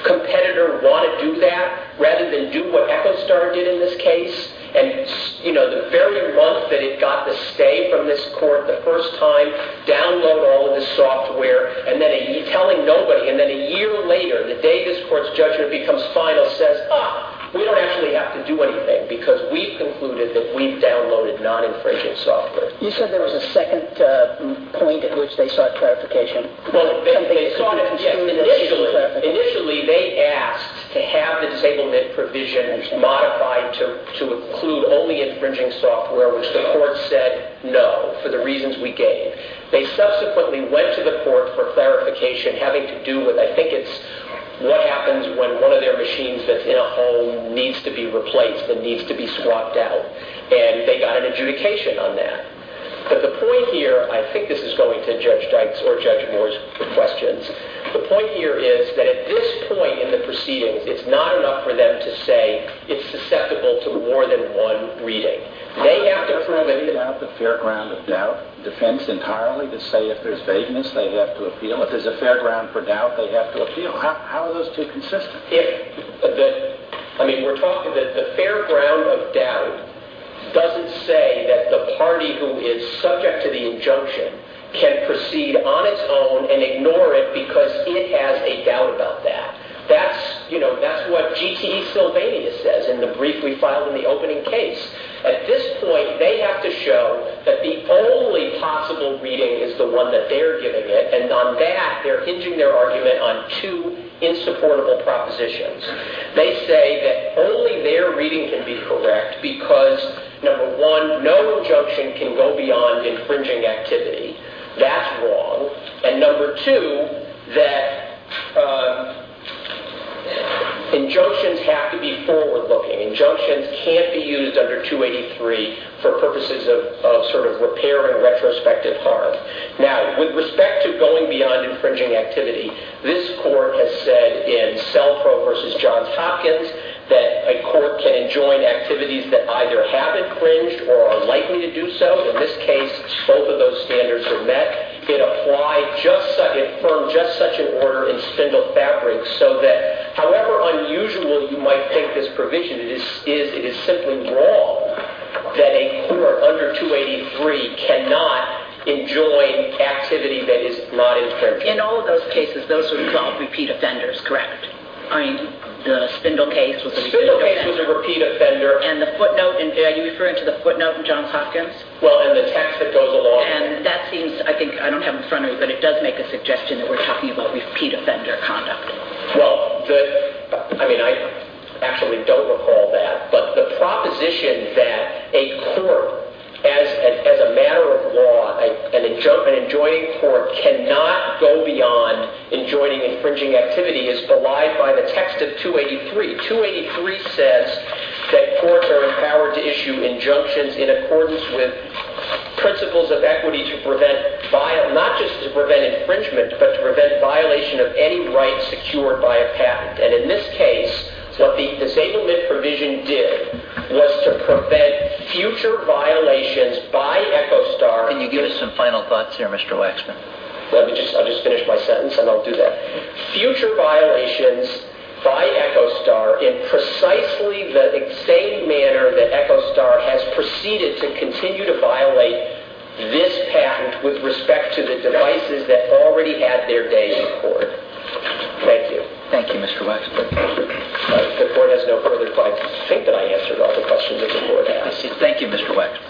competitor want to do that rather than do what Echo Star did in this case? And the very month that it got the stay from this court the first time, download all of the software, and then telling nobody, and then a year later, the day this court's judgment becomes final, says, ah, we don't actually have to do anything because we've concluded that we've downloaded non-infringing software. You said there was a second point at which they sought clarification. Well, they sought it, yes. Initially, they asked to have the disablement provisions modified to include only infringing software, which the court said, no, for the reasons we gave. They subsequently went to the court for clarification having to do with, I think it's, what happens when one of their machines that's in a home needs to be replaced and needs to be swapped out? And they got an adjudication on that. But the point here, I think this is going to Judge Dykes or Judge Moore's questions, the point here is that at this point in the proceedings it's not enough for them to say it's susceptible to more than one reading. They have to prove it. How do they have the fair ground of doubt defense entirely to say if there's vagueness they have to appeal, if there's a fair ground for doubt they have to appeal? How are those two consistent? I mean, we're talking that the fair ground of doubt doesn't say that the party who is subject to the injunction can proceed on its own and ignore it because it has a doubt about that. That's what GTE Sylvania says in the brief we filed in the opening case. At this point, they have to show that the only possible reading is the one that they're giving it, and on that, they're hinging their argument on two insupportable propositions. They say that only their reading can be correct because, number one, no injunction can go beyond infringing activity. That's wrong. And number two, that injunctions have to be forward-looking. Injunctions can't be used under 283 for purposes of sort of repair and retrospective harm. Now, with respect to going beyond infringing activity, this court has said in Selfrow v. Johns Hopkins that a court can enjoin activities that either haven't cringed or are likely to do so. In this case, both of those standards are met. It affirmed just such an order in Spindle Fabrics so that however unusual you might take this provision, it is simply wrong that a court under 283 cannot enjoin activity that is not infringing. In all of those cases, those were called repeat offenders, correct? I mean, the Spindle case was a repeat offender. The Spindle case was a repeat offender. And the footnote, are you referring to the footnote in Johns Hopkins? Well, in the text that goes along... And that seems, I think, I don't have it in front of me, but it does make a suggestion that we're talking about repeat offender conduct. Well, I mean, I actually don't recall that, but the proposition that a court, as a matter of law, an enjoining court, cannot go beyond enjoining infringing activity is belied by the text of 283. 283 says that courts are empowered to issue injunctions in accordance with principles of equity to prevent, not just to prevent infringement, but to prevent violation of any right secured by a patent. And in this case, what the disablement provision did was to prevent future violations by Echostar... Can you give us some final thoughts here, Mr. Waxman? Let me just... I'll just finish my sentence, and I'll do that. Future violations by Echostar in precisely the same manner that Echostar has proceeded to continue to violate this patent with respect to the devices that already had their days in court. Thank you. Thank you, Mr. Waxman. The court has no further questions. I think that I answered all the questions that the court asked. Thank you, Mr. Waxman.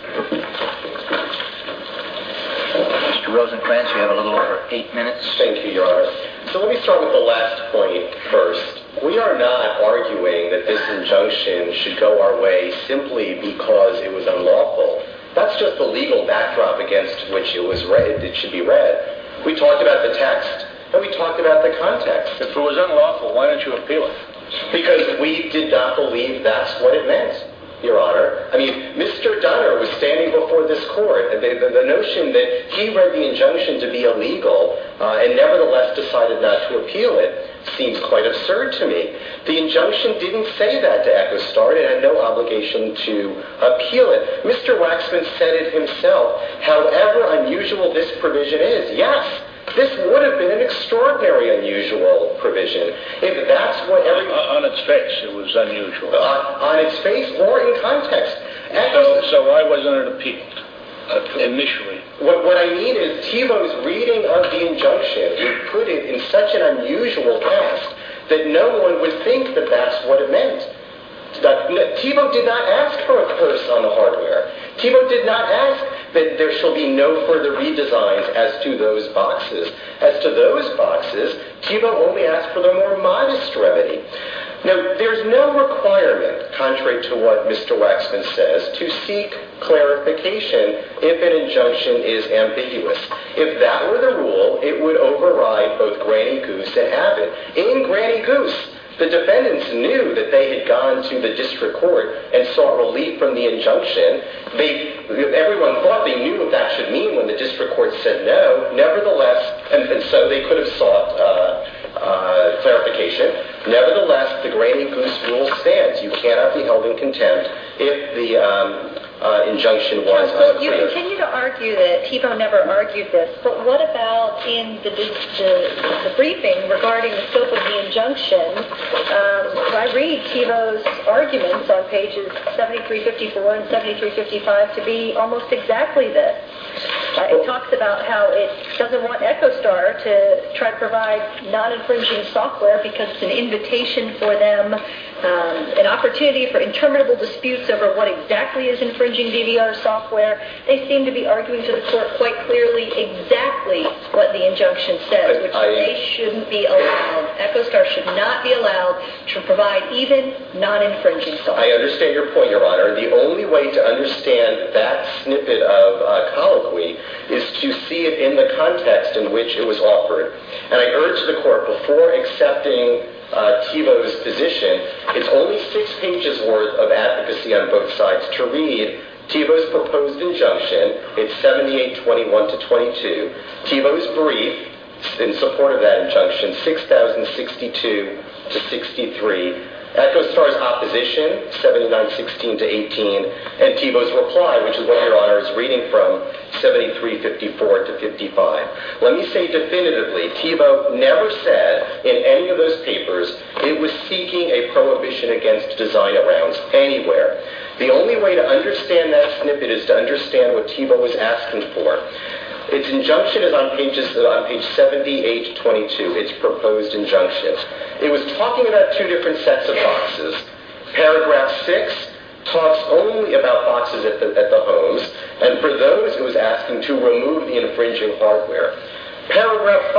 Mr. Rosenkranz, you have a little over eight minutes. Thank you, Your Honor. So let me start with the last point first. We are not arguing that this injunction should go our way simply because it was unlawful. That's just the legal backdrop against which it was read. It should be read. We talked about the text, and we talked about the context. If it was unlawful, why didn't you appeal it? Because we did not believe that's what it meant, Your Honor. I mean, Mr. Dunner was standing before this court, and the notion that he read the injunction to be illegal and nevertheless decided not to appeal it seems quite absurd to me. The injunction didn't say that to Echostar. It had no obligation to appeal it. Mr. Waxman said it himself. However unusual this provision is, yes, this would have been an extraordinary unusual provision. On its face, it was unusual. On its face or in context. So why wasn't it appealed initially? What I mean is Thiebaud's reading of the injunction, he put it in such an unusual way that no one would think that that's what it meant. Thiebaud did not ask for a curse on the hardware. Thiebaud did not ask that there shall be no further redesigns as to those boxes. As to those boxes, Thiebaud only asked for the more modest remedy. Now, there's no requirement, contrary to what Mr. Waxman says, to seek clarification if an injunction is ambiguous. If that were the rule, it would override both Granny Goose and Abbott. In Granny Goose, the defendants knew that they had gone to the district court and saw relief from the injunction. Everyone thought they knew what that should mean when the district court said no. So they could have sought clarification. Nevertheless, the Granny Goose rule stands. You cannot be held in contempt if the injunction was unclear. You continue to argue that Thiebaud never argued this. But what about in the briefing regarding the scope of the injunction? I read Thiebaud's arguments on pages 7354 and 7355 to be almost exactly this. It talks about how it doesn't want Echostar to try to provide non-infringing software because it's an invitation for them, an opportunity for interminable disputes over what exactly is infringing DVR software. They seem to be arguing to the court quite clearly exactly what the injunction says, which means they shouldn't be allowed. Echostar should not be allowed to provide even non-infringing software. I understand your point, Your Honor. The only way to understand that snippet of colloquy is to see it in the context in which it was offered. And I urge the court, before accepting Thiebaud's position, it's only six pages worth of advocacy on both sides to read Thiebaud's proposed injunction, it's 7821-22, Thiebaud's brief in support of that injunction, 6062-63, Echostar's opposition, 7916-18, and Thiebaud's reply, which is what Your Honor is reading from, 7354-55. Let me say definitively Thiebaud never said in any of those papers it was seeking a prohibition against design around anywhere. The only way to understand that snippet is to understand what Thiebaud was asking for. Its injunction is on page 78-22, its proposed injunction. It was talking about two different sets of boxes. Paragraph 6 talks only about boxes at the homes, and for those it was asking to remove the infringing hardware. Paragraph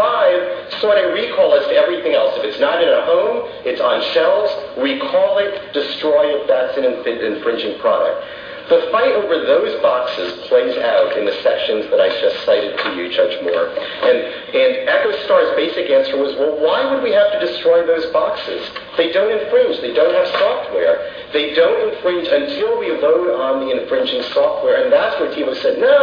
5 sought a recall as to everything else. If it's not in a home, it's on shelves, recall it, destroy it, if that's an infringing product. The fight over those boxes plays out in the sections that I just cited to you, Judge Moore. And Echostar's basic answer was, well, why would we have to destroy those boxes? They don't infringe. They don't have software. They don't infringe until we load on the infringing software, and that's when Thiebaud said, no,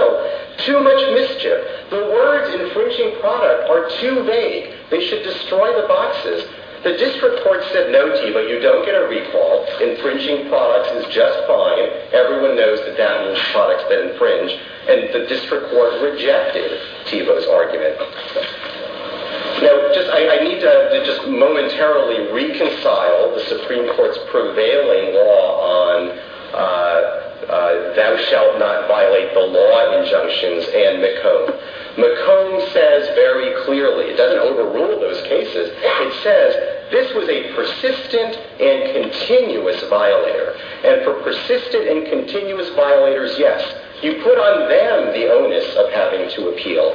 too much mischief. The words infringing product are too vague. They should destroy the boxes. The district court said, no, Thiebaud, you don't get a recall. Infringing products is just fine. Everyone knows that that means products that infringe, and the district court rejected Thiebaud's argument. Now, I need to just momentarily reconcile the Supreme Court's prevailing law on thou shalt not violate the law injunctions and McComb. McComb says very clearly, it doesn't overrule those cases, it says this was a persistent and continuous violator. And for persistent and continuous violators, yes, you put on them the onus of having to appeal.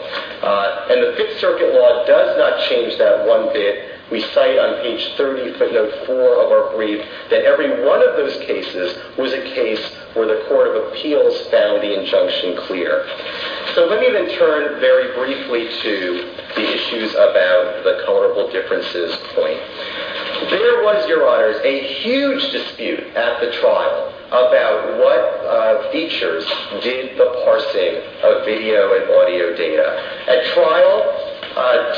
And the Fifth Circuit law does not change that one bit. We cite on page 30, footnote 4 of our brief, that every one of those cases was a case where the court of appeals found the injunction clear. So let me then turn very briefly to the issues about the colorable differences point. There was, Your Honors, a huge dispute at the trial about what features did the parsing of video and audio data. At trial,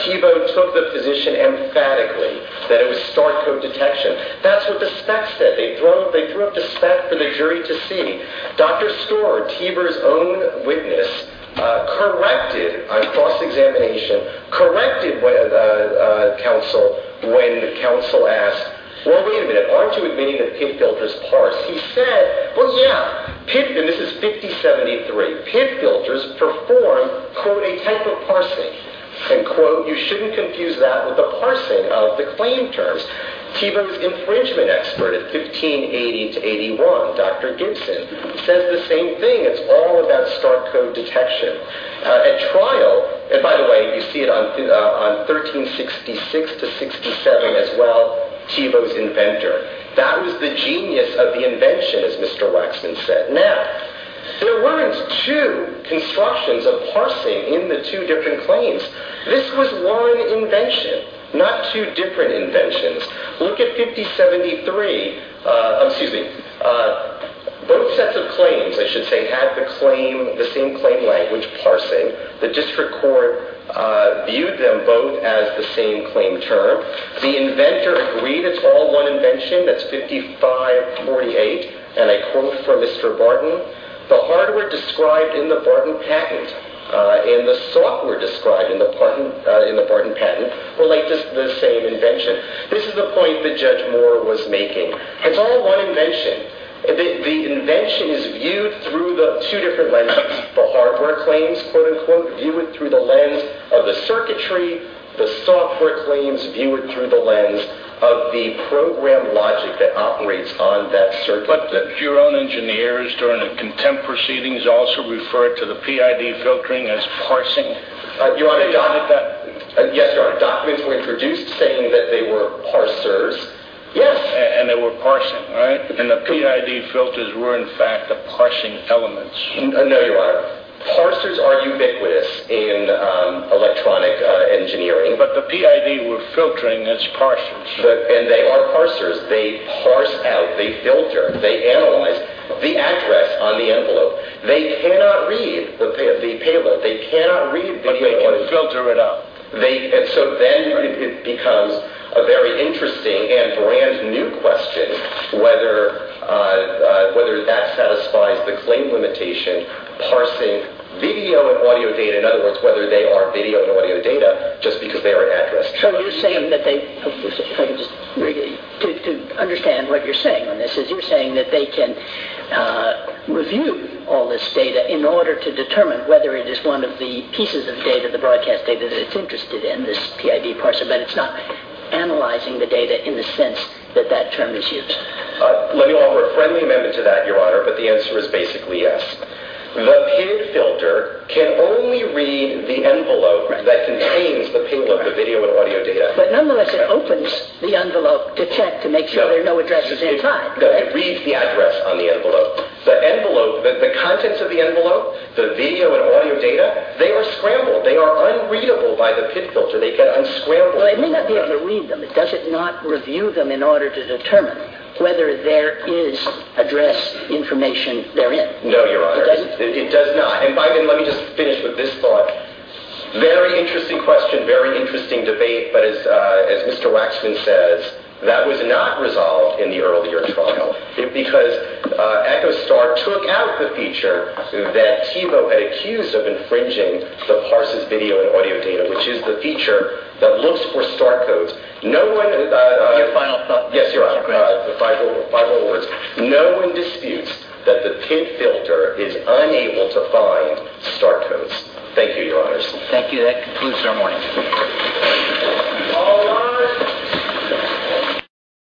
Thiebaud took the position emphatically that it was star code detection. That's what the specs did. They threw up the specs for the jury to see. Dr. Storer, Thiebaud's own witness, corrected, on cross-examination, corrected the counsel when the counsel asked, well, wait a minute, aren't you admitting that PID filters parse? He said, well, yeah. And this is 5073. PID filters perform, quote, a type of parsing. And quote, you shouldn't confuse that with the parsing of the claim terms. Thiebaud's infringement expert at 1580-81, Dr. Gibson, says the same thing. It's all about star code detection. At trial, and by the way, you see it on 1366-67 as well, Thiebaud's inventor. That was the genius of the invention, as Mr. Waxman said. Now, there weren't two constructions of parsing in the two different claims. This was one invention, not two different inventions. Look at 5073. Both sets of claims, I should say, had the same claim language, parsing. The district court viewed them both as the same claim term. The inventor agreed it's all one invention. That's 5548. And I quote from Mr. Barton, the hardware described in the Barton patent and the software described in the Barton patent relate to the same invention. This is the point that Judge Moore was making. It's all one invention. The invention is viewed through the two different lenses. The hardware claims, quote, unquote, view it through the lens of the circuitry. The software claims view it through the lens of the program logic that operates on that circuitry. But your own engineers during the contempt proceedings also referred to the PID filtering as parsing. Yes, Your Honor. Documents were introduced saying that they were parsers. Yes. And they were parsing, right? And the PID filters were, in fact, the parsing elements. No, Your Honor. Parsers are ubiquitous in electronic engineering. But the PID were filtering as parsers. And they are parsers. They parse out. They filter. They analyze the address on the envelope. They cannot read the payload. They cannot read video. But they can filter it out. And so then it becomes a very interesting and brand new question whether that satisfies the claim limitation, parsing video and audio data, in other words, whether they are video and audio data, just because they are an address. So you're saying that they, to understand what you're saying on this, is you're saying that they can review all this data in order to determine whether it is one of the pieces of data, the broadcast data that it's interested in, this PID parser, but it's not analyzing the data in the sense that that term is used. Let me offer a friendly amendment to that, Your Honor, but the answer is basically yes. The PID filter can only read the envelope that contains the payload, the video and audio data. But nonetheless it opens the envelope to check to make sure there are no addresses inside. It reads the address on the envelope. The contents of the envelope, the video and audio data, they are scrambled. They are unreadable by the PID filter. They get unscrambled. Well, it may not be able to read them. Does it not review them in order to determine whether there is address information therein? No, Your Honor. It does not. And by then, let me just finish with this thought. Very interesting question. Very interesting debate. But as Mr. Waxman says, that was not resolved in the earlier trial because EchoStar took out the feature that TiVo had accused of infringing the parser's video and audio data, which is the feature that looks for star codes. Your final thought, Mr. Grant. Yes, Your Honor. The final words. No one disputes that the PID filter is unable to find star codes. Thank you, Your Honors. Thank you. That concludes our morning. All rise.